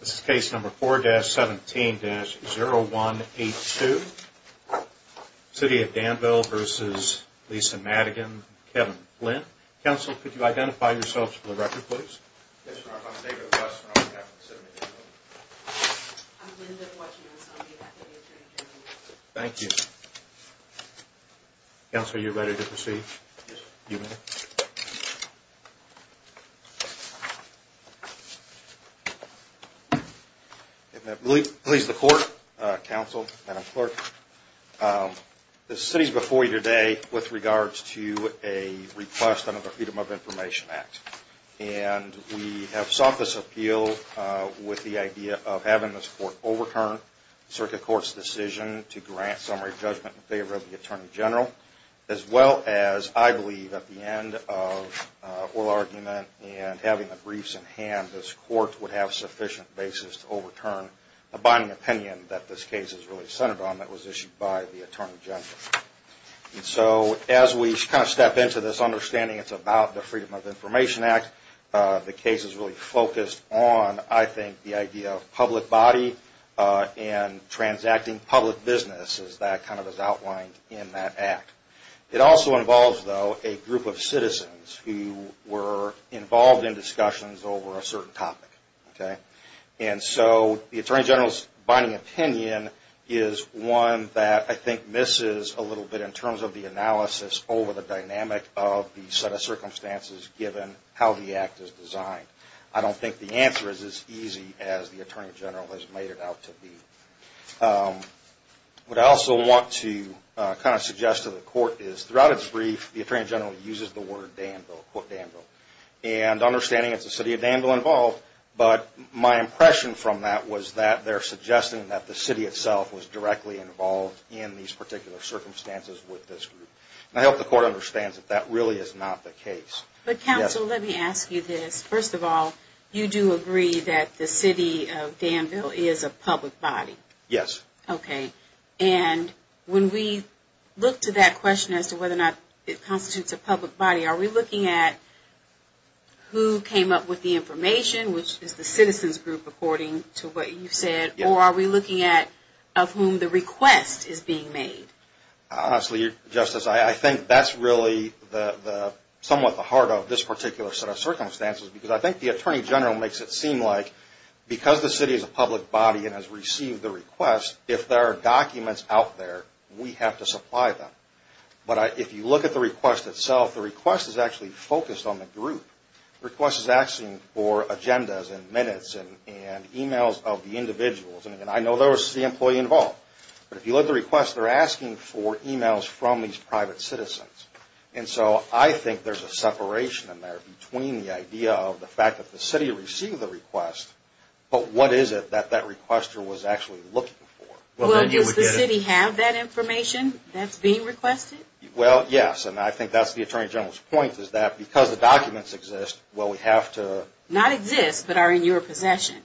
This is case number 4-17-0182, City of Danville v. Lisa Madigan, Kevin Flint. Counsel, could you identify yourselves for the record, please? Yes, sir. I'm David West, and I'm on behalf of the City of Danville. I'm Linda Washington, and I'm on behalf of the Attorney General. Thank you. Yes, sir. If that pleases the Court, Counsel, Madam Clerk, the City is before you today with regards to a request under the Freedom of Information Act. And we have sought this appeal with the idea of having this Court overturn the Circuit Court's decision to grant summary judgment in favor of the Attorney General, as well as, I believe, at the end of oral argument and having the briefs in hand, that this Court would have sufficient basis to overturn the binding opinion that this case is really centered on that was issued by the Attorney General. And so, as we kind of step into this understanding, it's about the Freedom of Information Act. The case is really focused on, I think, the idea of public body and transacting public business, as that kind of is outlined in that act. It also involves, though, a group of citizens who were involved in discussions over a certain topic. And so, the Attorney General's binding opinion is one that, I think, misses a little bit in terms of the analysis over the dynamic of the set of circumstances, given how the act is designed. I don't think the answer is as easy as the Attorney General has made it out to be. What I also want to kind of suggest to the Court is, throughout its brief, the Attorney General uses the word, quote, Danville. And understanding it's the City of Danville involved, but my impression from that was that they're suggesting that the City itself was directly involved in these particular circumstances with this group. And I hope the Court understands that that really is not the case. But, Counsel, let me ask you this. First of all, you do agree that the City of Danville is a public body? Yes. Okay. And when we look to that question as to whether or not it constitutes a public body, are we looking at who came up with the information, which is the citizens group, according to what you said, or are we looking at of whom the request is being made? Honestly, Justice, I think that's really somewhat the heart of this particular set of circumstances, because I think the Attorney General makes it seem like because the City is a public body and has received the request, if there are documents out there, we have to supply them. But if you look at the request itself, the request is actually focused on the group. The request is asking for agendas and minutes and e-mails of the individuals. And I know there was the employee involved. But if you look at the request, they're asking for e-mails from these private citizens. And so I think there's a separation in there between the idea of the fact that the City received the request, but what is it that that requester was actually looking for? Well, does the City have that information that's being requested? Well, yes. And I think that's the Attorney General's point, is that because the documents exist, well, we have to – Not exist, but are in your possession.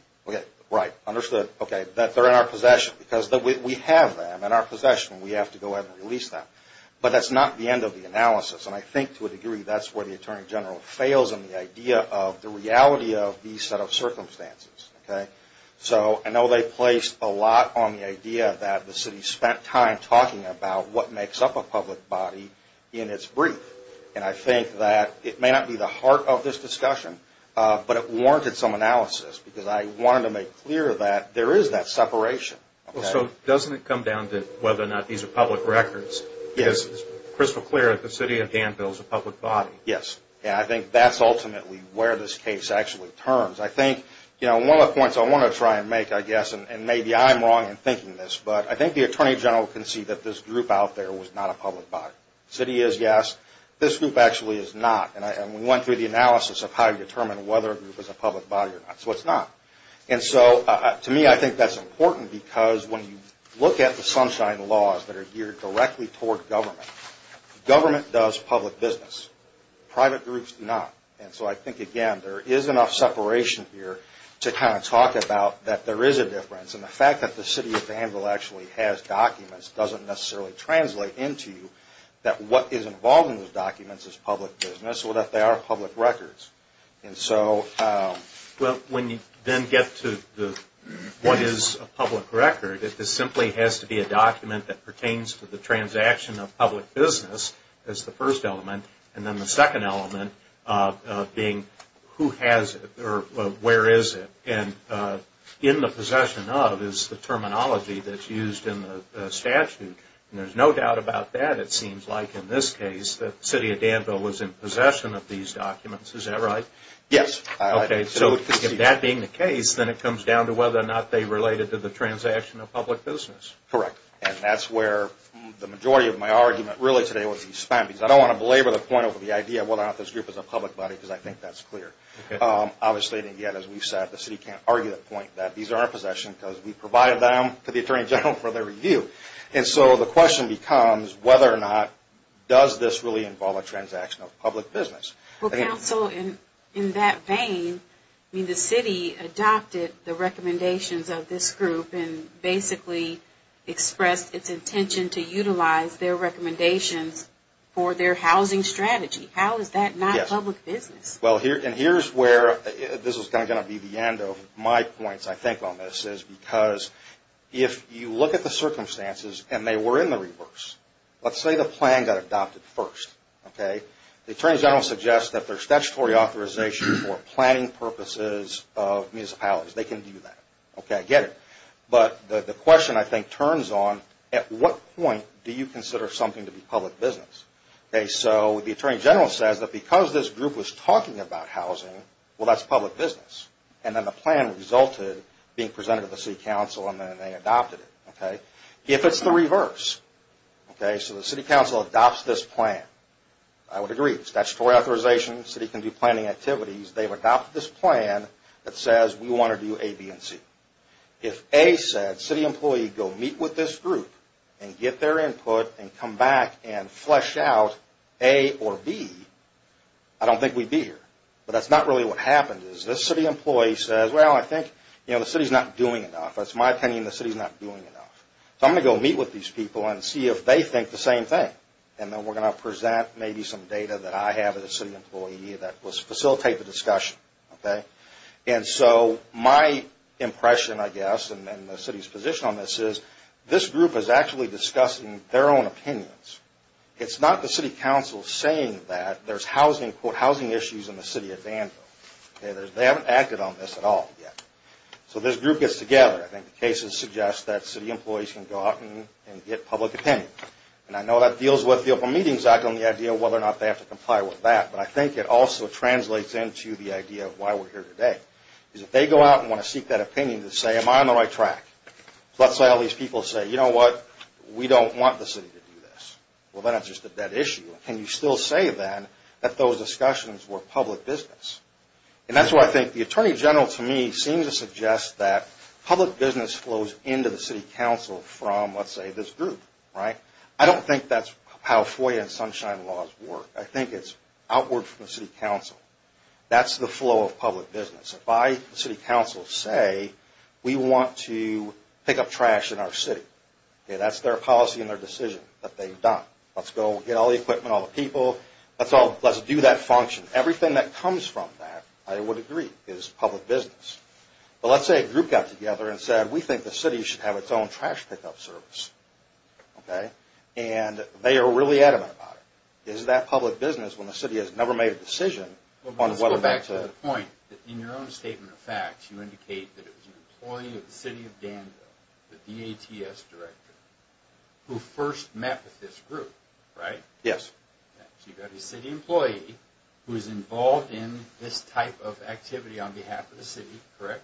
Right. Understood. Okay. That they're in our possession, because we have them in our possession. We have to go out and release them. But that's not the end of the analysis. And I think, to a degree, that's where the Attorney General fails in the idea of the reality of these set of circumstances. Okay? So I know they placed a lot on the idea that the City spent time talking about what makes up a public body in its brief. And I think that it may not be the heart of this discussion, but it warranted some analysis, because I wanted to make clear that there is that separation. Well, so doesn't it come down to whether or not these are public records? Yes. Because it's crystal clear that the City of Danville is a public body. Yes. And I think that's ultimately where this case actually turns. I think, you know, one of the points I want to try and make, I guess, and maybe I'm wrong in thinking this, but I think the Attorney General can see that this group out there was not a public body. The City is, yes. This group actually is not. And we went through the analysis of how to determine whether a group is a public body or not. So it's not. And so, to me, I think that's important because when you look at the Sunshine Laws that are geared directly toward government, government does public business. Private groups do not. And so I think, again, there is enough separation here to kind of talk about that there is a difference. And the fact that the City of Danville actually has documents doesn't necessarily translate into that what is involved in those documents is public business or that they are public records. And so, well, when you then get to what is a public record, it just simply has to be a document that pertains to the transaction of public business as the first element, and then the second element being who has it or where is it. And in the possession of is the terminology that's used in the statute. And there's no doubt about that, it seems like, in this case, that the City of Danville was in possession of these documents. Is that right? Yes. Okay. So if that being the case, then it comes down to whether or not they related to the transaction of public business. Correct. And that's where the majority of my argument really today was to use spam. Because I don't want to belabor the point over the idea of whether or not this group is a public body, because I think that's clear. Obviously, as we've said, the City can't argue that point, that these are in our possession because we provided them to the Attorney General for their review. And so the question becomes whether or not does this really involve a transaction of public business. Well, counsel, in that vein, I mean, the City adopted the recommendations of this group and basically expressed its intention to utilize their recommendations for their housing strategy. How is that not public business? Well, and here's where this is kind of going to be the end of my points, I think, on this, is because if you look at the circumstances and they were in the reverse, let's say the plan got adopted first. Okay. The Attorney General suggests that there's statutory authorization for planning purposes of municipalities. They can do that. Okay. I get it. But the question, I think, turns on at what point do you consider something to be public business. Okay. So the Attorney General says that because this group was talking about housing, well, that's public business. And then the plan resulted being presented to the City Council and then they adopted it. Okay. If it's the reverse, okay, so the City Council adopts this plan, I would agree. Statutory authorization, the City can do planning activities. They've adopted this plan that says we want to do A, B, and C. If A said, City employee, go meet with this group and get their input and come back and flesh out A or B, I don't think we'd be here. But that's not really what happened is this City employee says, well, I think, you know, the City's not doing enough. That's my opinion. The City's not doing enough. So I'm going to go meet with these people and see if they think the same thing. And then we're going to present maybe some data that I have as a City employee that will facilitate the discussion. Okay. And so my impression, I guess, and the City's position on this is this group is actually discussing their own opinions. It's not the City Council saying that there's housing, quote, housing issues in the City of Danville. Okay. They haven't acted on this at all yet. So this group gets together. I think the cases suggest that City employees can go out and get public opinion. And I know that deals with the Open Meetings Act on the idea of whether or not they have to comply with that. But I think it also translates into the idea of why we're here today. Because if they go out and want to seek that opinion to say, am I on the right track? Let's say all these people say, you know what, we don't want the City to do this. Well, then it's just a dead issue. Can you still say then that those discussions were public business? And that's why I think the Attorney General, to me, seems to suggest that public business flows into the City Council from, let's say, this group. Right? I don't think that's how FOIA and Sunshine Laws work. I think it's outward from the City Council. That's the flow of public business. If I, the City Council, say we want to pick up trash in our city, that's their policy and their decision that they've done. Let's go get all the equipment, all the people. Let's do that function. Everything that comes from that, I would agree, is public business. But let's say a group got together and said, we think the City should have its own trash pickup service. Okay? And they are really adamant about it. Is that public business when the City has never made a decision on whether or not to... In one statement of fact, you indicate that it was an employee of the City of Danville, the DATS Director, who first met with this group. Right? Yes. So you've got a city employee who is involved in this type of activity on behalf of the city. Correct?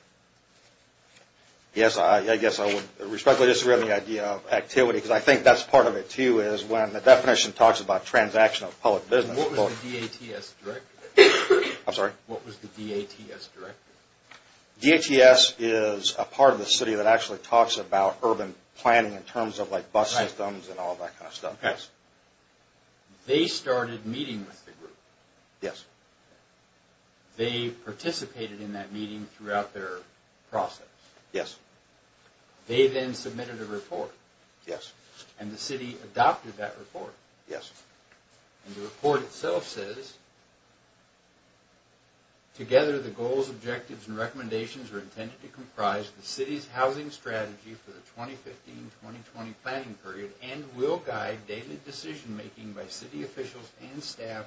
Yes. I guess I would respectfully disagree on the idea of activity, because I think that's part of it, too, is when the definition talks about transactional public business. What was the DATS Director? I'm sorry? What was the DATS Director? DATS is a part of the city that actually talks about urban planning in terms of bus systems and all that kind of stuff. Yes. They started meeting with the group. Yes. They participated in that meeting throughout their process. Yes. They then submitted a report. Yes. And the city adopted that report. Yes. And the report itself says, Together, the goals, objectives, and recommendations are intended to comprise the city's housing strategy for the 2015-2020 planning period and will guide daily decision-making by city officials and staff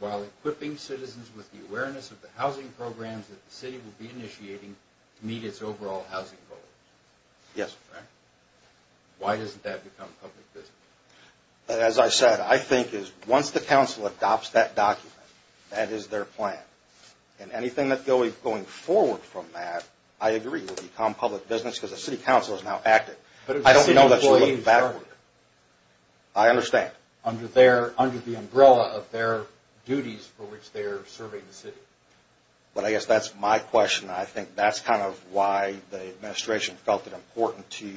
while equipping citizens with the awareness of the housing programs that the city will be initiating to meet its overall housing goals. Yes. Right? Why doesn't that become public business? As I said, I think once the council adopts that document, that is their plan. And anything going forward from that, I agree, will become public business because the city council is now active. I don't know that you're looking backward. I understand. Under the umbrella of their duties for which they are serving the city. But I guess that's my question. I think that's kind of why the administration felt it important to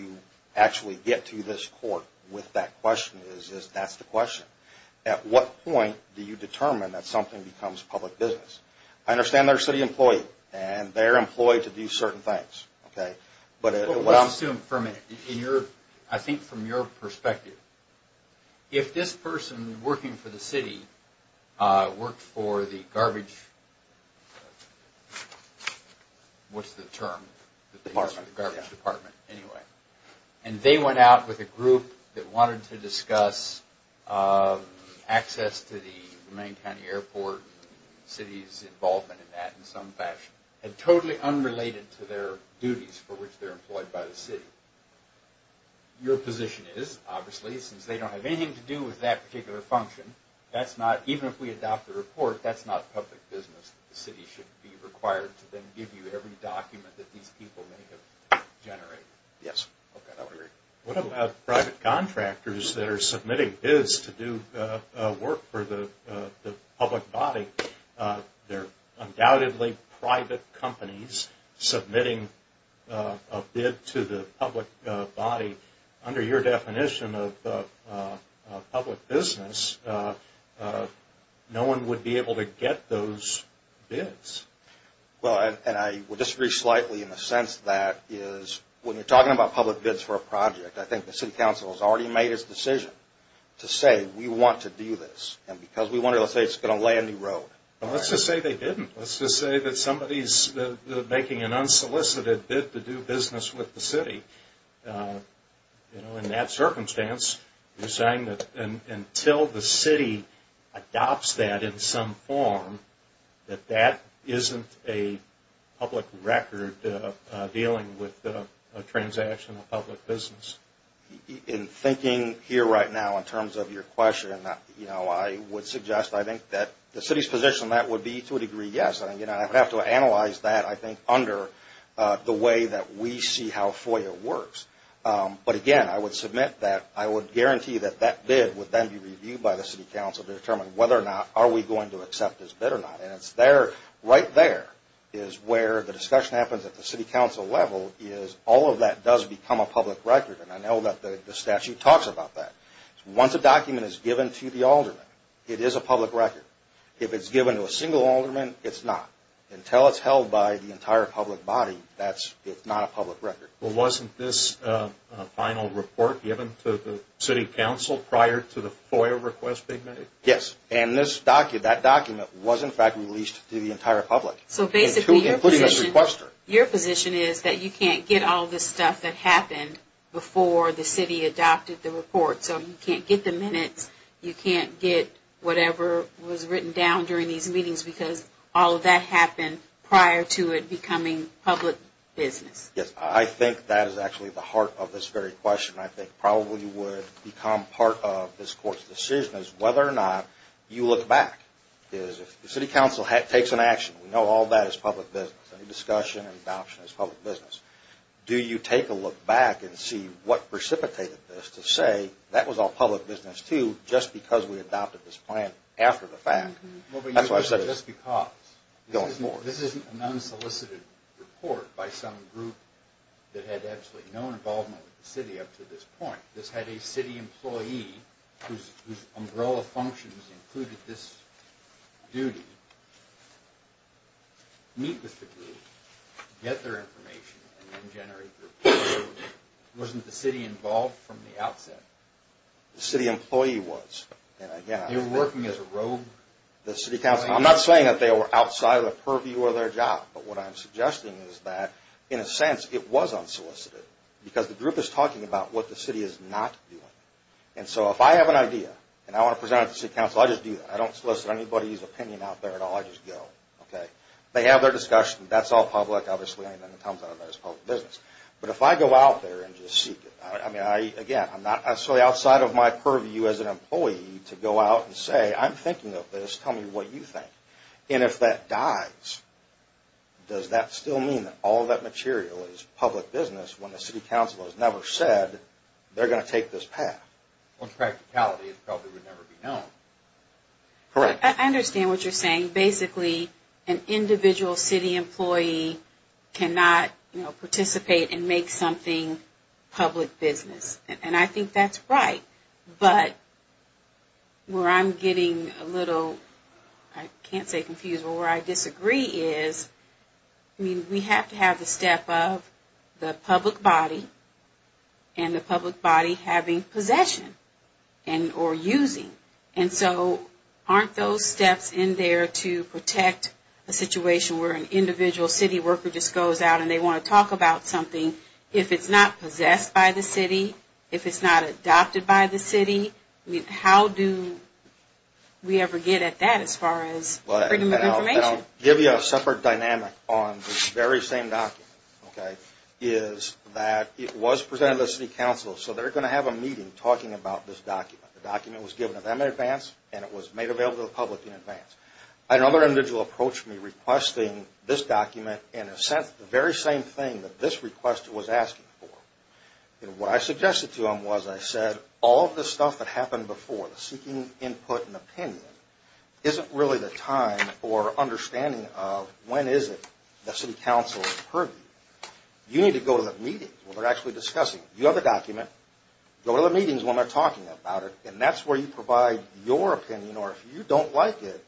actually get to this court with that question, is that's the question. At what point do you determine that something becomes public business? I understand they're a city employee, and they're employed to do certain things. Okay? What's the term? The garbage department. The garbage department. Anyway. And they went out with a group that wanted to discuss access to the main county airport, city's involvement in that in some fashion. And totally unrelated to their duties for which they're employed by the city. Your position is, obviously, since they don't have anything to do with that particular function, that's not, even if we adopt the report, that's not public business. The city should be required to then give you every document that these people may have generated. Yes. Okay. I would agree. What about private contractors that are submitting bids to do work for the public body? They're undoubtedly private companies submitting a bid to the public body. Under your definition of public business, no one would be able to get those bids. Well, and I would disagree slightly in the sense that when you're talking about public bids for a project, I think the city council has already made its decision to say, we want to do this. And because we want it, let's say it's going to lay a new road. Let's just say they didn't. Let's just say that somebody's making an unsolicited bid to do business with the city. In that circumstance, you're saying that until the city adopts that in some form, that that isn't a public record dealing with a transaction of public business. In thinking here right now in terms of your question, I would suggest, I think, that the city's position on that would be to a degree, yes. I would have to analyze that, I think, under the way that we see how FOIA works. But again, I would submit that I would guarantee that that bid would then be reviewed by the city council to determine whether or not are we going to accept this bid or not. And right there is where the discussion happens at the city council level is all of that does become a public record. And I know that the statute talks about that. Once a document is given to the alderman, it is a public record. If it's given to a single alderman, it's not. Until it's held by the entire public body, it's not a public record. Well, wasn't this final report given to the city council prior to the FOIA request they made? Yes. And that document was, in fact, released to the entire public. So basically your position is that you can't get all this stuff that happened before the city adopted the report. So you can't get the minutes, you can't get whatever was written down during these meetings because all of that happened prior to it becoming public business. Yes. I think that is actually the heart of this very question. I think probably would become part of this court's decision is whether or not you look back. If the city council takes an action, we know all that is public business. Any discussion and adoption is public business. Do you take a look back and see what precipitated this to say that was all public business, too, just because we adopted this plan after the fact? That's what I said. Just because. Go on. This isn't a non-solicited report by some group that had absolutely no involvement with the city up to this point. This had a city employee whose umbrella functions included this duty meet with the group, get their information, and then generate the report. Wasn't the city involved from the outset? The city employee was. They were working as a rogue? I'm not saying that they were outside of the purview of their job, but what I'm suggesting is that, in a sense, it was unsolicited because the group is talking about what the city is not doing. So if I have an idea and I want to present it to the city council, I just do that. I don't solicit anybody's opinion out there at all. I just go. They have their discussion. That's all public, obviously, and then it comes out as public business. But if I go out there and just seek it, I mean, again, I'm not actually outside of my purview as an employee to go out and say, I'm thinking of this, tell me what you think. And if that dies, does that still mean that all of that material is public business when the city council has never said they're going to take this path? Well, in practicality, it probably would never be known. Correct. I understand what you're saying. Basically, an individual city employee cannot participate and make something public business. And I think that's right. But where I'm getting a little, I can't say confused, but where I disagree is, I mean, we have to have the step of the public body and the public body having possession or using. And so aren't those steps in there to protect a situation where an individual city worker just goes out and they want to talk about something? If it's not possessed by the city, if it's not adopted by the city, how do we ever get at that as far as freedom of information? I'll give you a separate dynamic on this very same document, okay, is that it was presented to the city council, so they're going to have a meeting talking about this document. The document was given to them in advance, and it was made available to the public in advance. Another individual approached me requesting this document in a sense, the very same thing that this request was asking for. And what I suggested to them was I said, all of the stuff that happened before, the seeking input and opinion, isn't really the time or understanding of when is it the city council is purview. You need to go to the meeting where they're actually discussing. You have a document. Go to the meetings when they're talking about it, and that's where you provide your opinion, or if you don't like it,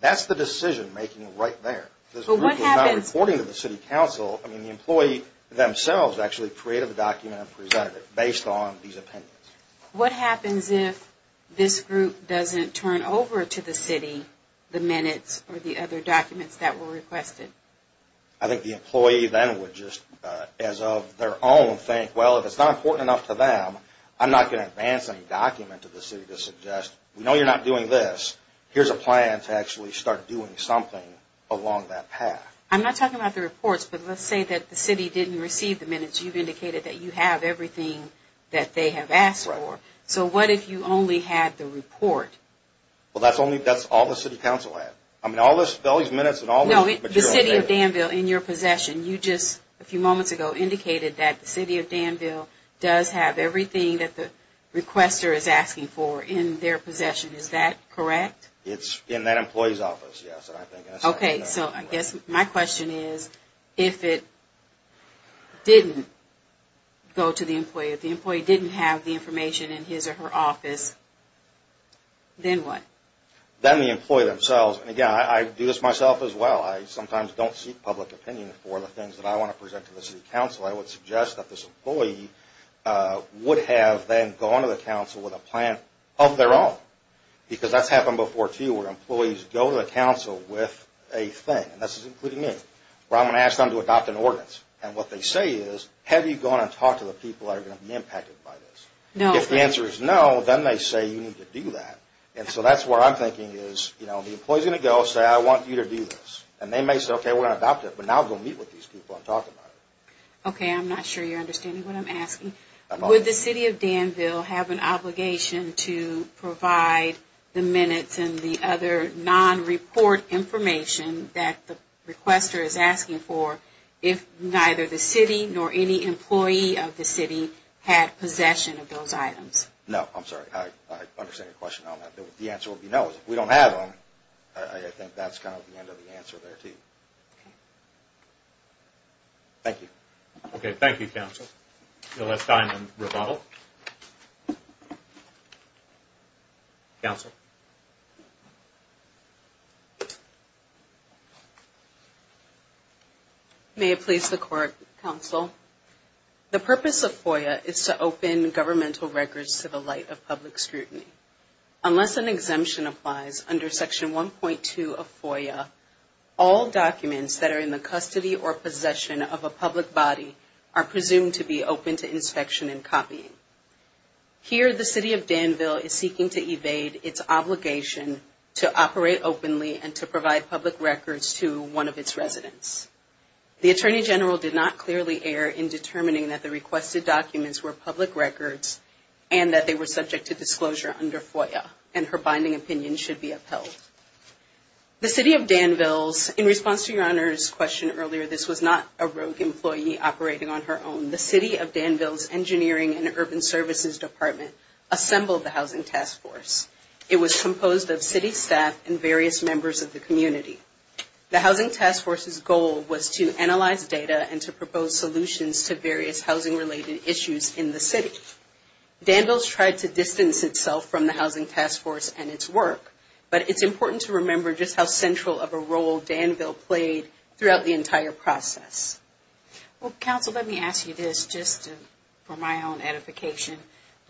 that's the decision making right there. This group is not reporting to the city council. I mean, the employee themselves actually created the document and presented it based on these opinions. What happens if this group doesn't turn over to the city the minutes or the other documents that were requested? I think the employee then would just, as of their own, think, well, if it's not important enough to them, I'm not going to advance any document to the city to suggest, we know you're not doing this. Here's a plan to actually start doing something along that path. I'm not talking about the reports, but let's say that the city didn't receive the minutes. You've indicated that you have everything that they have asked for. So what if you only had the report? Well, that's all the city council had. I mean, all these minutes and all this material. No, the city of Danville, in your possession, you just a few moments ago indicated that the city of Danville does have everything that the requester is asking for in their possession. Is that correct? It's in that employee's office, yes. Okay. So I guess my question is, if it didn't go to the employee, if the employee didn't have the information in his or her office, then what? Then the employee themselves. Again, I do this myself as well. I sometimes don't seek public opinion for the things that I want to present to the city council. I would suggest that this employee would have then gone to the council with a plan of their own, because that's happened before, too, where employees go to the council with a thing, and this is including me, where I'm going to ask them to adopt an ordinance. And what they say is, have you gone and talked to the people that are going to be impacted by this? If the answer is no, then they say you need to do that. And so that's where I'm thinking is, you know, the employee is going to go and say, I want you to do this. And they may say, okay, we're going to adopt it, but now go meet with these people I'm talking about. Okay. I'm not sure you're understanding what I'm asking. Would the city of Danville have an obligation to provide the minutes and the other non-report information that the requester is asking for if neither the city nor any employee of the city had possession of those items? No. I'm sorry. I understand your question. The answer would be no. Because if we don't have them, I think that's kind of the end of the answer there, too. Thank you. Okay. Thank you, counsel. No less time than rebuttal. Counsel. May it please the court, counsel. The purpose of FOIA is to open governmental records to the light of public scrutiny. Unless an exemption applies under Section 1.2 of FOIA, all documents that are in the custody or possession of a public body are presumed to be open to inspection and copying. Here the city of Danville is seeking to evade its obligation to operate openly and to provide public records to one of its residents. The Attorney General did not clearly err in determining that the requested documents were public records and that they were subject to disclosure under FOIA, and her binding opinion should be upheld. The city of Danville's, in response to your Honor's question earlier, this was not a rogue employee operating on her own. The city of Danville's Engineering and Urban Services Department assembled the Housing Task Force. It was composed of city staff and various members of the community. The Housing Task Force's goal was to analyze data and to propose solutions to various housing-related issues in the city. Danville's tried to distance itself from the Housing Task Force and its work, but it's important to remember just how central of a role Danville played throughout the entire process. Well, Counsel, let me ask you this, just for my own edification.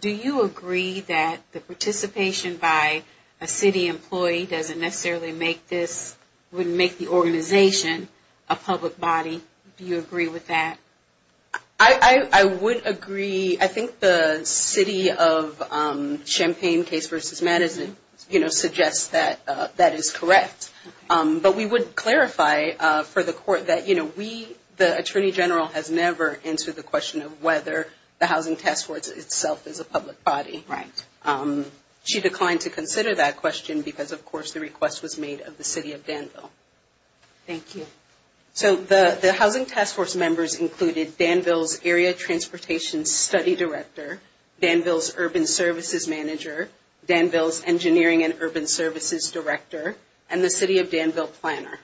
Do you agree that the participation by a city employee doesn't necessarily make this, wouldn't make the organization a public body? Do you agree with that? I would agree. I think the city of Champaign case versus Madison, you know, suggests that that is correct. But we would clarify for the court that, you know, we, the Attorney General has never answered the question of whether the Housing Task Force itself is a public body. Right. She declined to consider that question because, of course, the request was made of the city of Danville. Thank you. So the Housing Task Force members included Danville's area transportation study director, Danville's urban services manager, Danville's engineering and urban services director, and the city of Danville planner.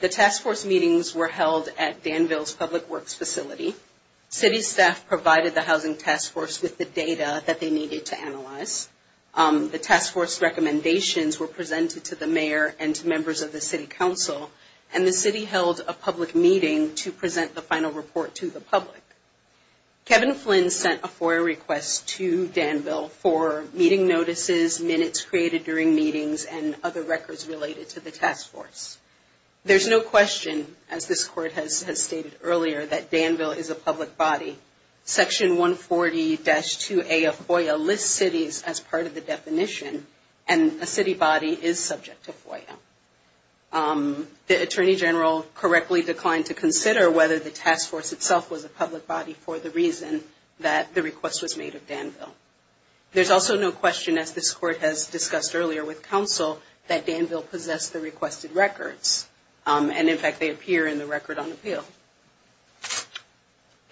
The task force meetings were held at Danville's public works facility. City staff provided the Housing Task Force with the data that they needed to analyze. The task force recommendations were presented to the mayor and to members of the city council, and the city held a public meeting to present the final report to the public. Kevin Flynn sent a FOIA request to Danville for meeting notices, minutes created during meetings, and other records related to the task force. There's no question, as this court has stated earlier, that Danville is a public body. Section 140-2A of FOIA lists cities as part of the definition, and a city body is subject to FOIA. The attorney general correctly declined to consider whether the task force itself was a public body for the reason that the request was made of Danville. There's also no question, as this court has discussed earlier with council, that Danville possessed the requested records, and, in fact, they appear in the record on appeal.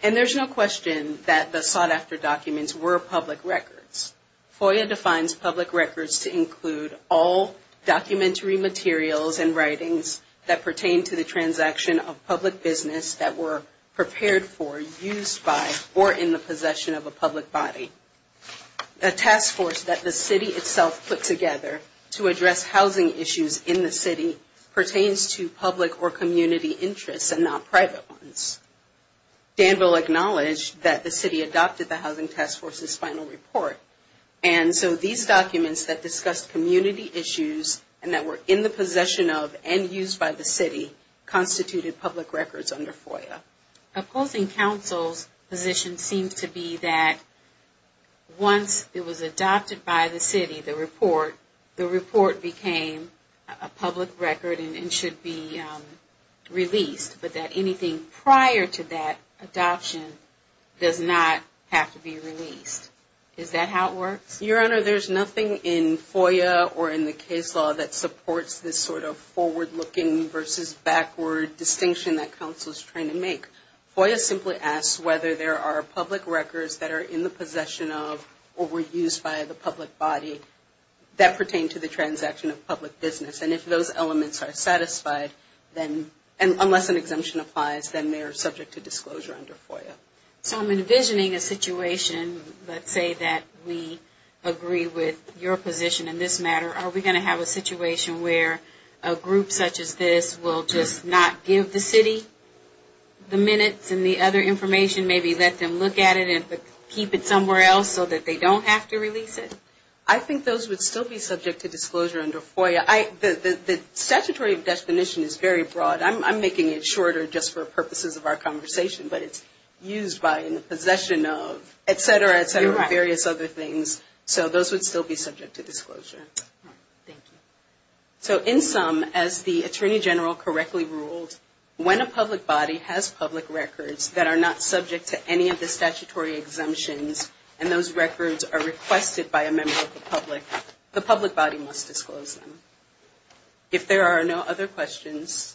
And there's no question that the sought-after documents were public records. FOIA defines public records to include all documentary materials and writings that pertain to the transaction of public business that were prepared for, used by, or in the possession of a public body. The task force that the city itself put together to address housing issues in the city pertains to public or community interests and not private ones. Danville acknowledged that the city adopted the Housing Task Force's final report, and so these documents that discussed community issues and that were in the possession of and used by the city constituted public records under FOIA. Opposing counsel's position seems to be that once it was adopted by the city, the report, the report became a public record and should be released, but that anything prior to that adoption does not have to be released. Is that how it works? Your Honor, there's nothing in FOIA or in the case law that supports this sort of forward-looking versus backward distinction that counsel is trying to make. FOIA simply asks whether there are public records that are in the possession of or were used by the public body that pertain to the transaction of public business. And if those elements are satisfied, unless an exemption applies, then they are subject to disclosure under FOIA. So I'm envisioning a situation, let's say that we agree with your position in this matter, are we going to have a situation where a group such as this will just not give the city the minutes and the other information, maybe let them look at it and keep it somewhere else so that they don't have to release it? I think those would still be subject to disclosure under FOIA. The statutory definition is very broad. I'm making it shorter just for purposes of our conversation, but it's used by, in the possession of, et cetera, et cetera, various other things. So those would still be subject to disclosure. Thank you. So in sum, as the Attorney General correctly ruled, when a public body has public records that are not subject to any of the requirements of the public, the public body must disclose them. If there are no other questions,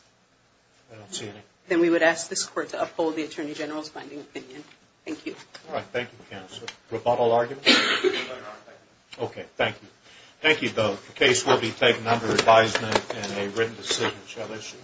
then we would ask this Court to uphold the Attorney General's binding opinion. Thank you. All right. Thank you, Counsel. Rebuttal arguments? Okay. Thank you. Thank you both. The case will be taken under advisement and a written decision shall issue.